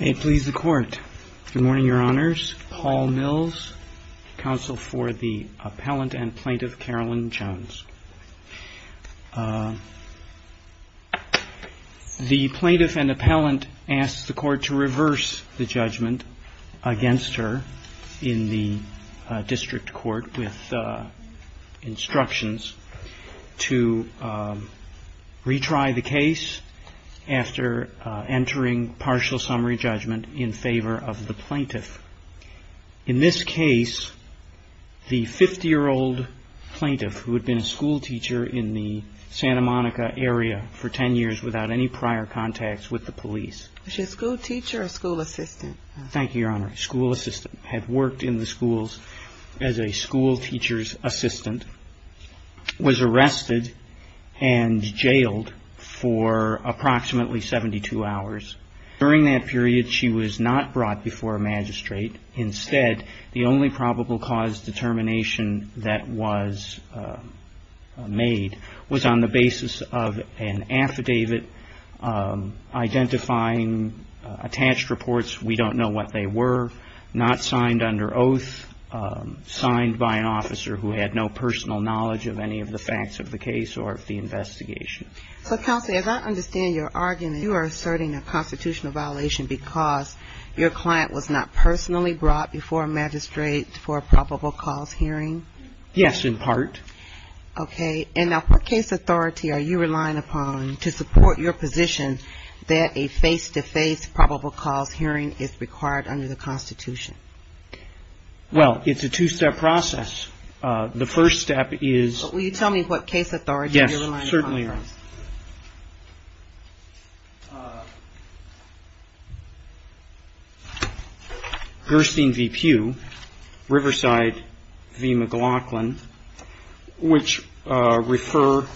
Good morning, Your Honors. Paul Mills, Counsel for the Appellant and Plaintiff Carolyn Jones. The Plaintiff and Appellant asks the Court to reverse the judgment against her in the case after entering partial summary judgment in favor of the Plaintiff. In this case, the 50-year-old Plaintiff, who had been a schoolteacher in the Santa Monica area for 10 years without any prior contacts with the police... Was she a schoolteacher or a school assistant? Thank you, Your Honor. A school assistant. Had worked in the schools as a schoolteacher's assistant, was arrested and jailed for approximately 72 hours. During that period, she was not brought before a magistrate. Instead, the only probable cause determination that was made was on the basis of an affidavit identifying attached reports. We don't know what they were, not signed under oath, signed by an officer who had no personal knowledge of any of the facts of the case or of the investigation. So, Counsel, as I understand your argument, you are asserting a constitutional violation because your client was not personally brought before a magistrate for a probable cause hearing? Yes, in part. Okay. And now, what case authority are you relying upon to support your position that a face-to-face probable cause hearing is required under the Constitution? Well, it's a two-step process. The first step is... Well, will you tell me what case authority you're relying upon for this? ...Gerstin v. Pugh, Riverside v. McLaughlin, which refer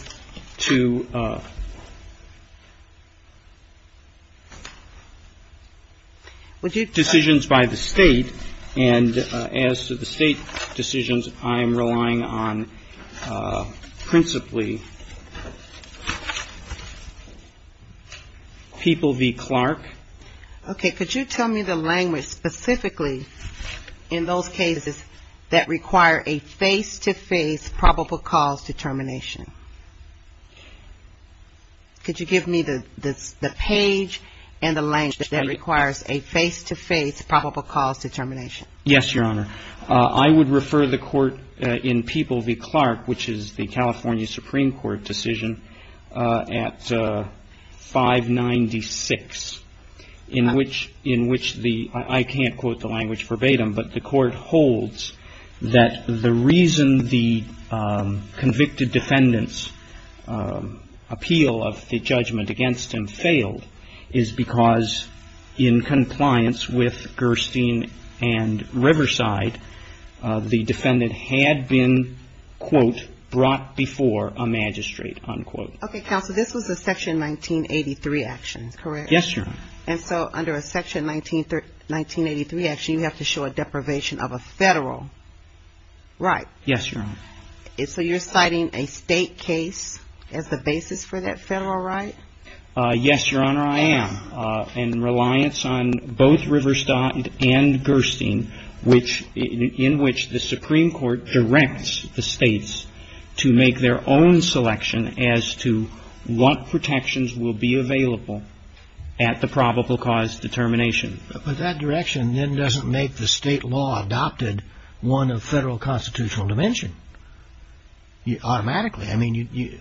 to decisions by the State, and as to the State decisions, I am relying on principally People v. Clark. Okay. Could you tell me the language specifically in those cases that require a face-to-face probable cause determination? Could you give me the page and the language that requires a face-to-face probable cause determination? Yes, Your Honor. I would refer the Court in People v. Clark, which is the California Supreme Court decision at 596, in which the — I can't quote the language verbatim, but the Court holds that the reason the convicted defendant's appeal of the judgment against him failed is because, in compliance with Gerstin and Riverside, the defendant had been, quote, brought before a magistrate, unquote. Okay, Counsel, this was a Section 1983 action, correct? Yes, Your Honor. And so under a Section 1983 action, you have to show a deprivation of a federal right? Yes, Your Honor. And so you're citing a State case as the basis for that federal right? Yes, Your Honor, I am, in reliance on both Riverside and Gerstin, in which the Supreme Court directs the States to make their own selection as to what protections will be available at the probable cause determination. But that direction then doesn't make the State law adopted one of federal constitutional dimension, automatically. I mean,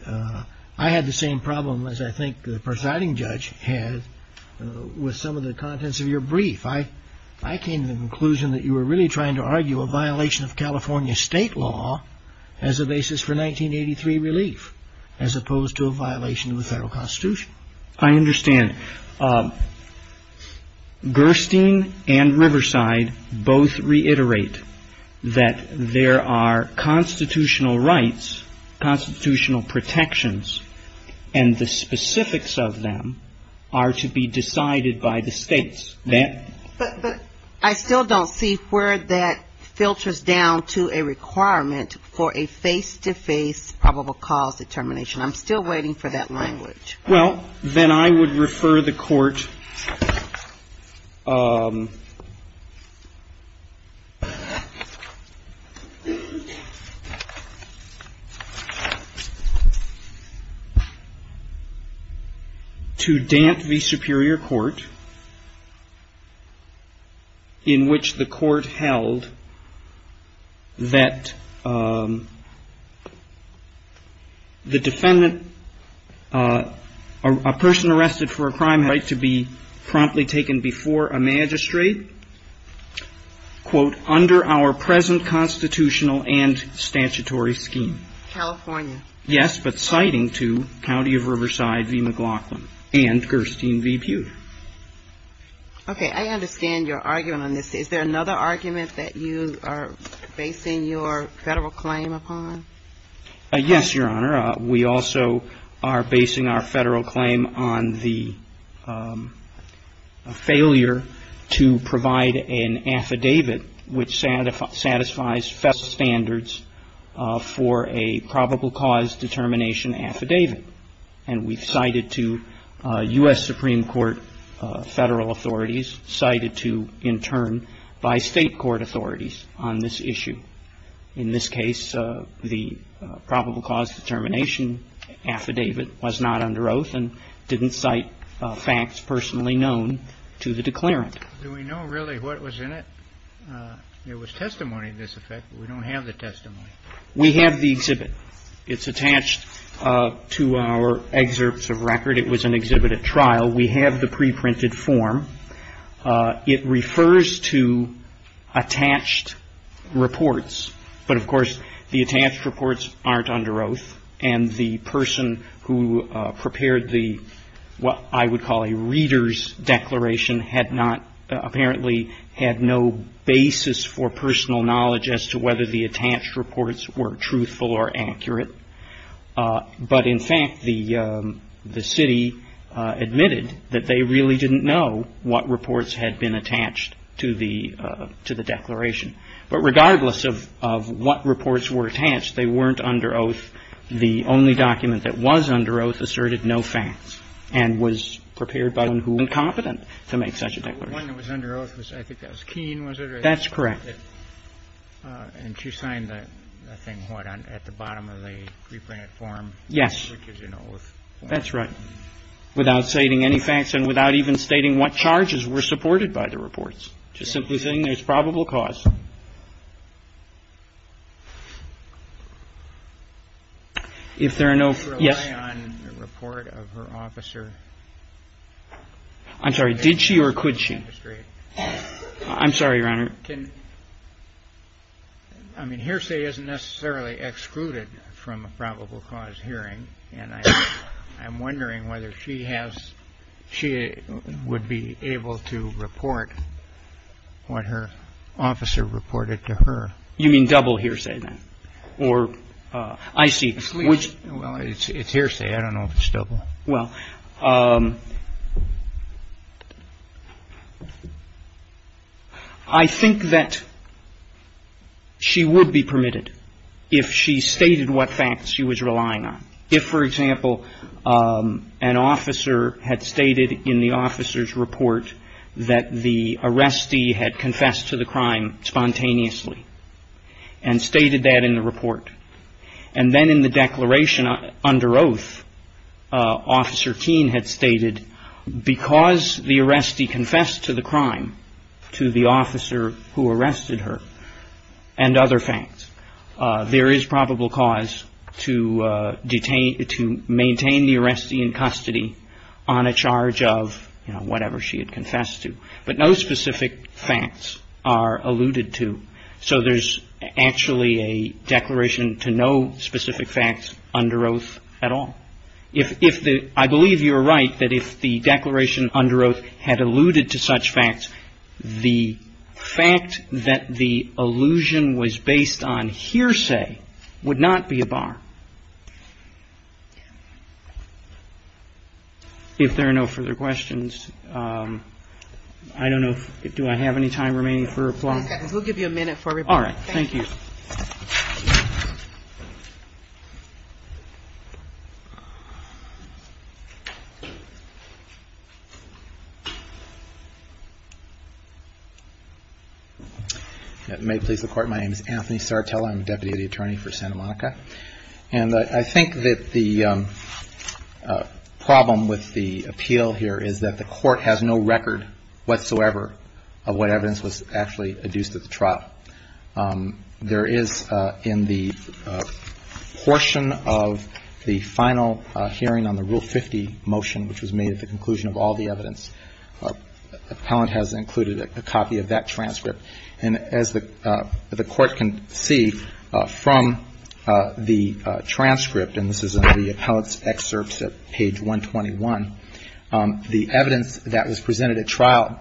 I had the same problem as I think the presiding judge had with some of the contents of your brief. I came to the conclusion that you were really trying to argue a violation of California State law as a basis for 1983 relief, as opposed to a violation of the federal Constitution. I understand. Gerstin and Riverside both reiterate that there are constitutional rights, constitutional protections, and the specifics of them are to be decided by the States. But I still don't see where that filters down to a requirement for a face-to-face probable cause determination. I'm still waiting for that language. Well, then I would refer the Court to Dant v. Superior Court, in which the Court held that the defendant, a person arrested for a crime had the right to be promptly taken before a magistrate, quote, under our present constitutional and statutory scheme. California. Yes, but citing to County of Riverside v. McLaughlin and Gerstin v. Pew. Okay. I understand your argument on this. Is there another argument that you are basing your federal claim upon? Yes, Your Honor. We also are basing our federal claim on the failure to provide an affidavit which satisfies federal standards for a probable cause determination affidavit. And we've cited to U.S. Supreme Court federal authorities, cited to, in turn, by State Court authorities on this issue. In this case, the probable cause determination affidavit was not under oath and didn't cite facts personally known to the declarant. Do we know really what was in it? There was testimony to this effect, but we don't have the testimony. We have the exhibit. It's attached to our excerpts of record. It was an exhibit at trial. We have the preprinted form. It refers to attached reports, but, of course, the attached reports aren't under oath, and the person who prepared the what I would call a reader's had no basis for personal knowledge as to whether the attached reports were truthful or accurate. But, in fact, the city admitted that they really didn't know what reports had been attached to the declaration. But regardless of what reports were attached, they weren't under oath. The only document that was under oath asserted no facts and was prepared by the one who was competent to make such a declaration. The one that was under oath, I think that was Keene, was it? That's correct. And she signed the thing, what, at the bottom of the preprinted form? Yes. Which gives you no oath. That's right. Without stating any facts and without even stating what charges were supported by the reports. Just simply saying there's probable cause. If there are no, yes. Did she rely on the report of her officer? I'm sorry, did she or could she? I'm sorry, Your Honor. I mean, Hearsay isn't necessarily excluded from a probable cause hearing, and I'm wondering whether she has, she would be able to report what her officer reported to her. You mean double Hearsay then? Or, I see. Well, it's Hearsay. I don't know if it's double. Well, I think that she would be permitted if she stated what facts she was relying on. If, for example, an officer had stated in the officer's report that the arrestee had confessed to the crime spontaneously and stated that in the report, and then in the declaration under oath, Officer Keene had stated because the arrestee confessed to the crime to the officer who arrested her and other facts, there is probable cause to maintain the arrestee in custody on a charge of, you know, the crime that the arrestee had confessed to. But no specific facts are alluded to. So there's actually a declaration to no specific facts under oath at all. If the, I believe you're right that if the declaration under oath had alluded to such facts, the fact that the allusion was based on Hearsay would not be a bar. If there are no further questions, I don't know, do I have any time remaining for applause? Okay. We'll give you a minute for everybody. All right. Thank you. May it please the Court, my name is Anthony Sartella. I'm Deputy to the Attorney for Santa Monica. And I think that the problem with the appeal here is that the Court has no record whatsoever of what evidence was actually adduced at the trial. There is in the portion of the final hearing on the Rule 50 motion, which was made at the conclusion of all the evidence, the appellant has included a copy of that transcript. And this is in the appellant's excerpts at page 121. The evidence that was presented at trial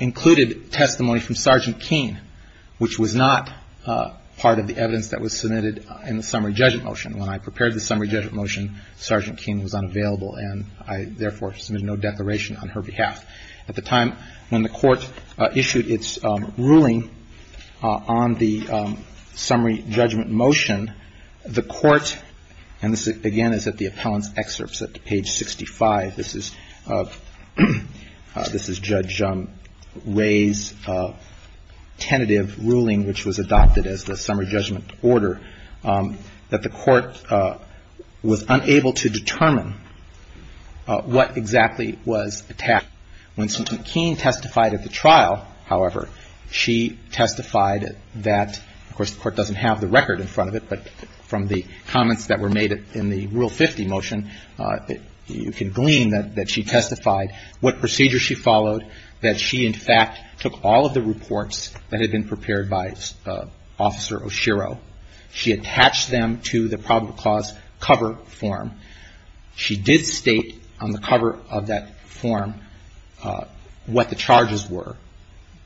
included testimony from Sergeant Keene, which was not part of the evidence that was submitted in the summary judgment motion. When I prepared the summary judgment motion, Sergeant Keene was unavailable and I therefore submitted no declaration on her behalf. At the time when the Court issued its ruling on the summary judgment motion, the Court, and this again is at the appellant's excerpts at page 65. This is Judge Ray's tentative ruling, which was adopted as the summary judgment order, that the Court was unable to determine what exactly was attacked. When Sergeant Keene testified at the trial, however, she testified that, of course, the Court doesn't have the record in front of it, but from the comments that were made in the Rule 50 motion, you can glean that she testified what procedure she followed, that she in fact took all of the reports that had been prepared by Officer Oshiro. She attached them to the probable cause cover form. She did state on the cover of that form what the charges were.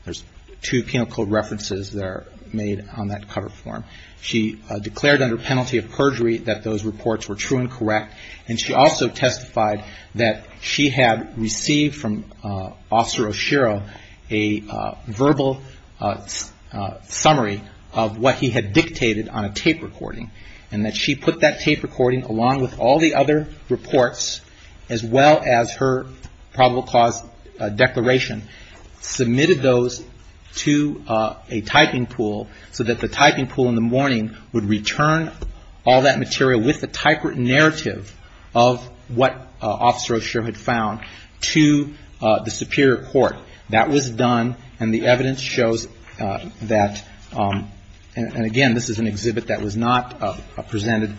There's two penal code references that are made on that cover form. She declared under penalty of perjury that those reports were true and correct, and she also testified that she had received from Officer Oshiro a verbal summary of what he had dictated on a tape recording, and that she put that tape recording along with all the other reports as well as her probable cause declaration submitted those to a typing pool so that the typing pool in the morning would return all that material with the typewritten narrative of what Officer Oshiro had found to the Superior Court. That was done, and the evidence shows that, and again, this is an exhibit that was not presented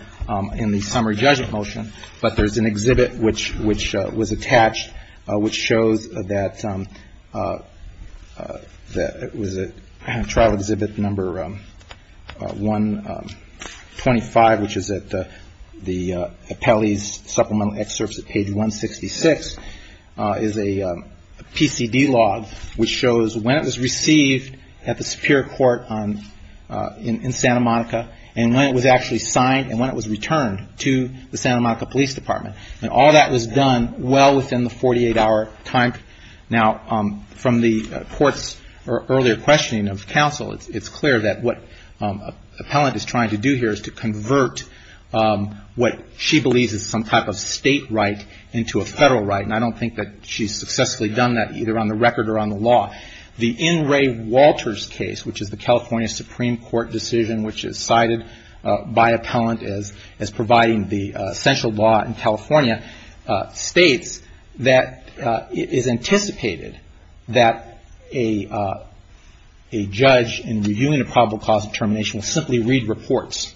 in the summary judgment motion, but there's an exhibit which was attached which shows that it was at trial exhibit number 125, which is at the appellee's supplemental excerpts at page 166, is a PCD log which shows when it was received at the Superior Court in Santa Monica and when it was actually signed and when it was returned to the Santa Monica Police Department, and all that was done well within the 48-hour time. Now, from the court's earlier questioning of counsel, it's clear that what appellant is trying to do here is to convert what she believes is some type of state right into a federal right, and I don't think that she's successfully done that either on the record or on the law. The N. Ray Walters case, which is the California Supreme Court decision which is cited by appellant as providing the essential law in California, states that it is anticipated that a judge in reviewing a probable cause determination will simply read reports.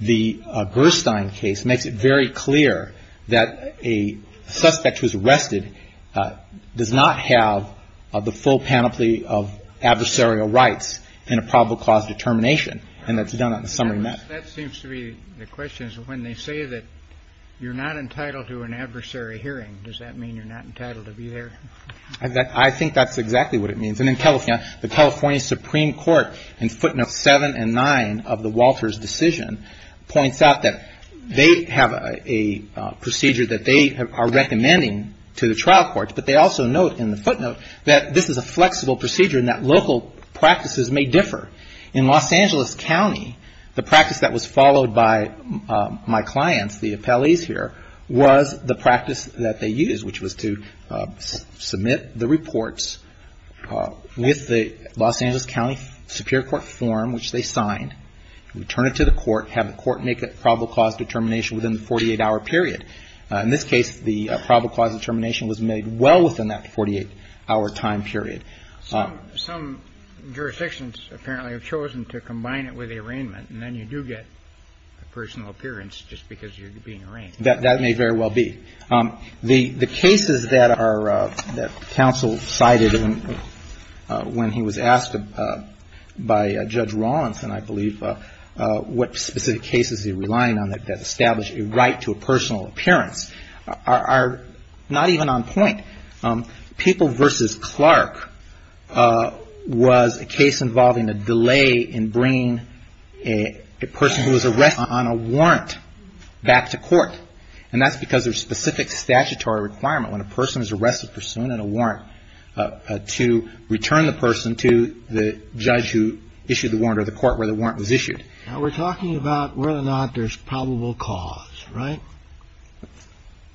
The Gerstein case makes it very clear that a suspect who's arrested does not have the full panoply of adversarial rights in a probable cause determination, and that's done on the summary met. Kennedy. That seems to be the question. When they say that you're not entitled to an adversary hearing, does that mean you're not entitled to be there? I think that's exactly what it means. And in California, the California Supreme Court, in footnotes 7 and 9 of the Walters decision, points out that they have a procedure that they are recommending to the trial courts. But they also note in the footnote that this is a flexible procedure and that local practices may differ. In Los Angeles County, the practice that was followed by my clients, the appellees here, was the practice that they used, which was to submit the reports with the Los Angeles County Superior Court form, which they signed, return it to the court, have the court make a probable cause determination within the 48-hour period. In this case, the probable cause determination was made well within that 48-hour time period. Some jurisdictions apparently have chosen to combine it with the arraignment, and then you do get a personal appearance just because you're being arraigned. That may very well be. The cases that are the counsel cited when he was asked by Judge Rawlings, and I believe what specific cases he's relying on that establish a right to a personal appearance are not even on point. People v. Clark was a case involving a delay in bringing a person who was arrested on a warrant back to court. And that's because there's specific statutory requirement when a person is arrested pursuant to a warrant to return the person to the judge who issued the warrant or the court where the warrant was issued. Now, we're talking about whether or not there's probable cause, right?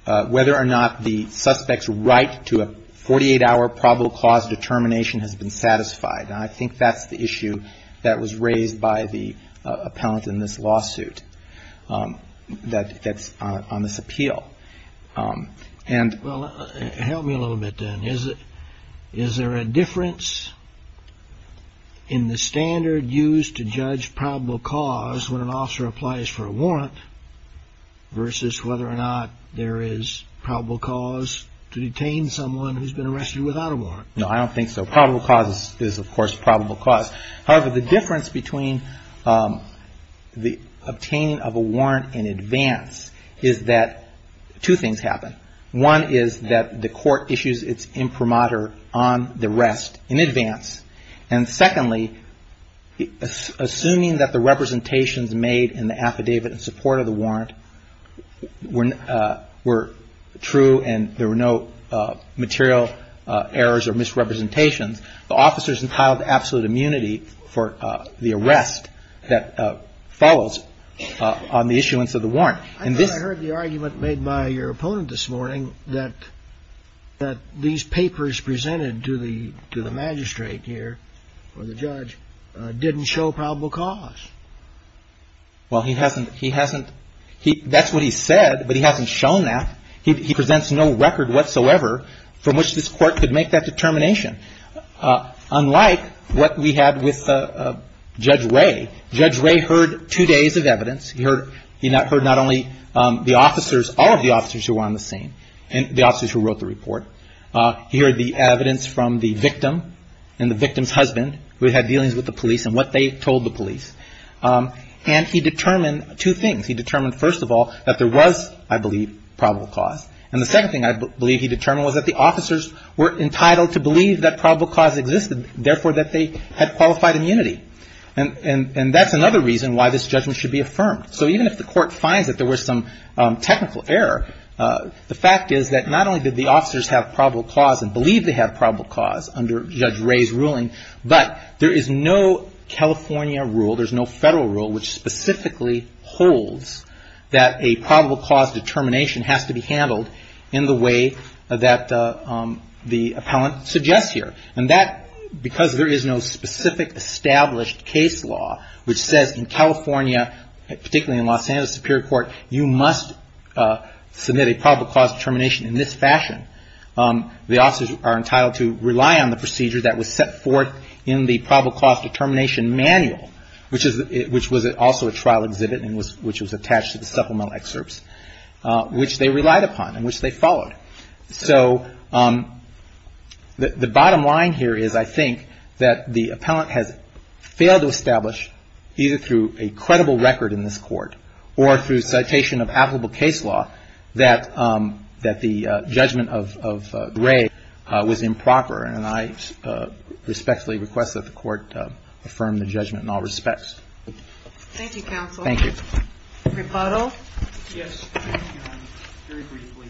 Whether or not the suspect's right to a 48-hour probable cause determination has been satisfied. And I think that's the issue that was raised by the appellant in this lawsuit that's on this appeal. Well, help me a little bit then. Is there a difference in the standard used to judge probable cause when an officer applies for a warrant versus whether or not there is probable cause to detain someone who's been arrested without a warrant? No, I don't think so. Probable cause is, of course, probable cause. However, the difference between the obtaining of a warrant in advance is that two things happen. One is that the court issues its imprimatur on the rest in advance. And secondly, assuming that the representations made in the affidavit in support of the warrant were true and there were no material errors or misrepresentations, the officer's entitled to absolute immunity for the arrest that follows on the issuance of the warrant. I thought I heard the argument made by your opponent this morning that these papers presented to the magistrate here, or the judge, didn't show probable cause. Well, he hasn't. He hasn't. That's what he said, but he hasn't shown that. He presents no record whatsoever from which this Court could make that determination. Unlike what we had with Judge Ray. Judge Ray heard two days of evidence. He heard not only the officers, all of the officers who were on the scene, the officers who wrote the report. He heard the evidence from the victim and the victim's husband who had dealings with the police and what they told the police. And he determined two things. He determined, first of all, that there was, I believe, probable cause. And the second thing I believe he determined was that the officers were entitled to believe that probable cause existed, therefore, that they had qualified immunity. And that's another reason why this judgment should be affirmed. So even if the Court finds that there was some technical error, the fact is that not only did the officers have probable cause and believe they had probable cause under Judge Ray's ruling, but there is no California rule, there's no Federal rule which specifically holds that a probable cause determination has to be handled in the way that the appellant suggests here. And that, because there is no specific established case law which says in California, particularly in Los Angeles Superior Court, you must submit a probable cause determination in this fashion, the officers are entitled to rely on the procedure that was set forth in the probable cause determination manual, which was also a trial exhibit and which was attached to the supplemental excerpts, which they relied upon and which they followed. So the bottom line here is, I think, that the appellant has failed to establish, either through a credible record in this Court or through citation of applicable case law, that the judgment of Ray was improper. And I respectfully request that the Court affirm the judgment in all respects. Thank you, counsel. Thank you. Rebuttal? Yes. Very briefly.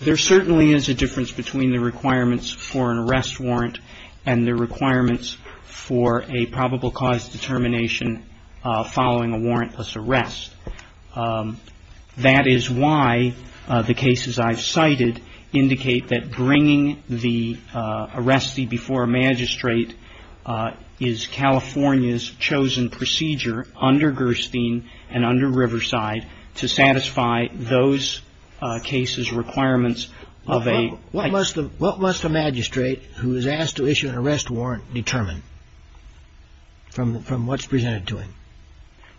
There certainly is a difference between the requirements for an arrest warrant and the requirements for a probable cause determination following a warrantless arrest. That is why the cases I've cited indicate that bringing the arrestee before a magistrate is California's chosen procedure under Gerstein and under Riverside to satisfy those cases' requirements of a ---- What must a magistrate who is asked to issue an arrest warrant determine from what's presented to him?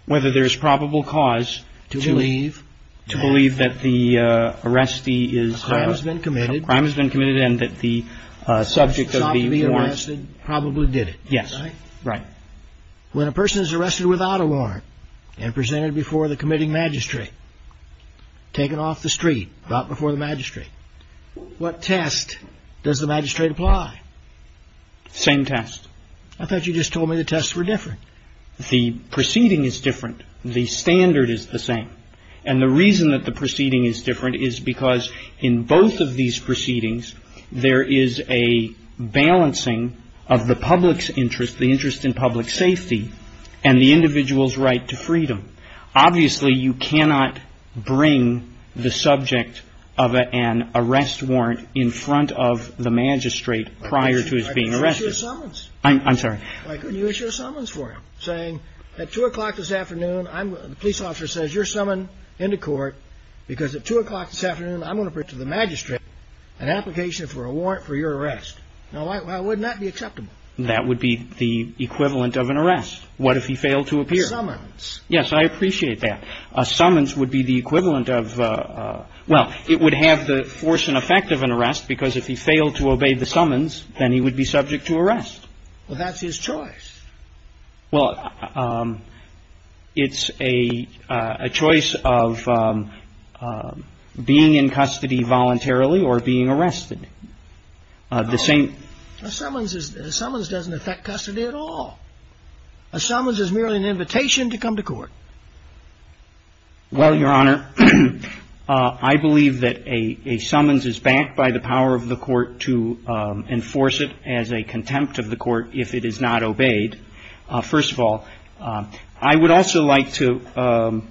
Whether there's probable cause to believe that the arrestee is ---- A crime has been committed. A crime has been committed and that the subject of the warrant ---- Stopped being arrested, probably did it. Yes. Right. When a person is arrested without a warrant and presented before the committing magistrate, taken off the street, not before the magistrate, what test does the magistrate apply? Same test. I thought you just told me the tests were different. The proceeding is different. The standard is the same. And the reason that the proceeding is different is because in both of these proceedings, there is a balancing of the public's interest, the interest in public safety, and the individual's right to freedom. Obviously, you cannot bring the subject of an arrest warrant in front of the magistrate prior to his being arrested. I couldn't issue a summons. I'm sorry. I couldn't issue a summons for him, saying at 2 o'clock this afternoon, the police officer says, because at 2 o'clock this afternoon, I'm going to bring to the magistrate an application for a warrant for your arrest. Now, why wouldn't that be acceptable? That would be the equivalent of an arrest. What if he failed to appear? Summons. Yes. I appreciate that. A summons would be the equivalent of ---- Well, it would have the force and effect of an arrest because if he failed to obey the summons, then he would be subject to arrest. Well, that's his choice. Well, it's a choice of being in custody voluntarily or being arrested. The same ---- A summons doesn't affect custody at all. A summons is merely an invitation to come to court. Well, Your Honor, I believe that a summons is backed by the power of the court to enforce it as a contempt of the court if it is not obeyed. First of all, I would also like to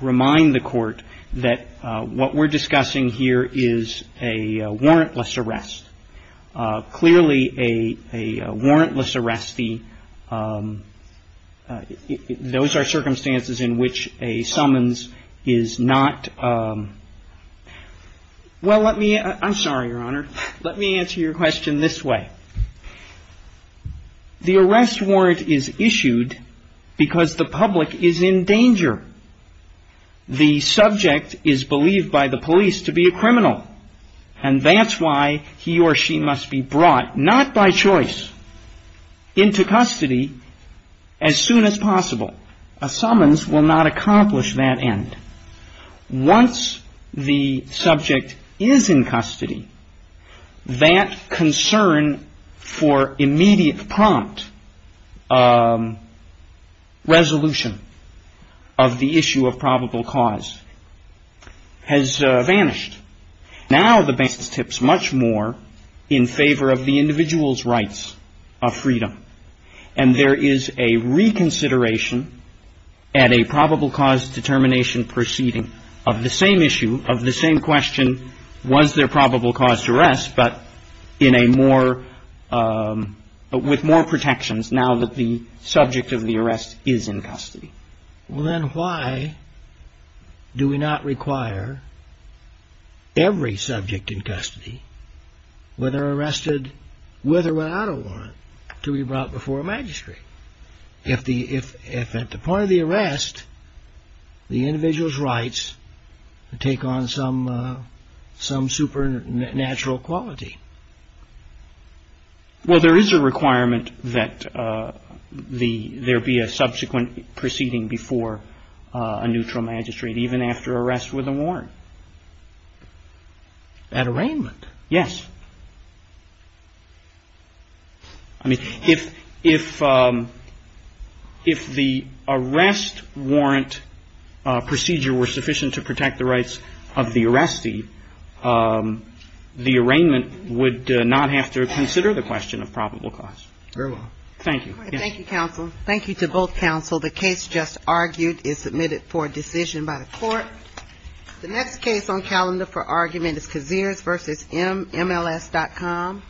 remind the court that what we're discussing here is a warrantless arrest. Clearly, a warrantless arrest, those are circumstances in which a summons is not ---- Well, let me ---- I'm sorry, Your Honor. Let me answer your question this way. The arrest warrant is issued because the public is in danger. The subject is believed by the police to be a criminal, and that's why he or she must be brought, not by choice, into custody as soon as possible. A summons will not accomplish that end. Once the subject is in custody, that concern for immediate prompt resolution of the issue of probable cause has vanished. Now the ---- tips much more in favor of the individual's rights of freedom. And there is a reconsideration at a probable cause determination proceeding of the same issue, of the same question, was there probable cause to arrest, but in a more ---- with more protections now that the subject of the arrest is in custody. Well, then why do we not require every subject in custody, whether arrested with or without a warrant, to be brought before a magistrate? If the ---- if at the point of the arrest, the individual's rights take on some supernatural quality? Well, there is a requirement that the ---- there be a subsequent proceeding before a neutral magistrate, even after arrest with a warrant. At arraignment? Yes. I mean, if the arrest warrant procedure were sufficient to protect the rights of the arrestee, the arraignment would not have to consider the question of probable cause. Very well. Thank you. Thank you, counsel. Thank you to both counsel. The case just argued is submitted for decision by the Court. The next case on calendar for argument is Kaziris v. MLS.com.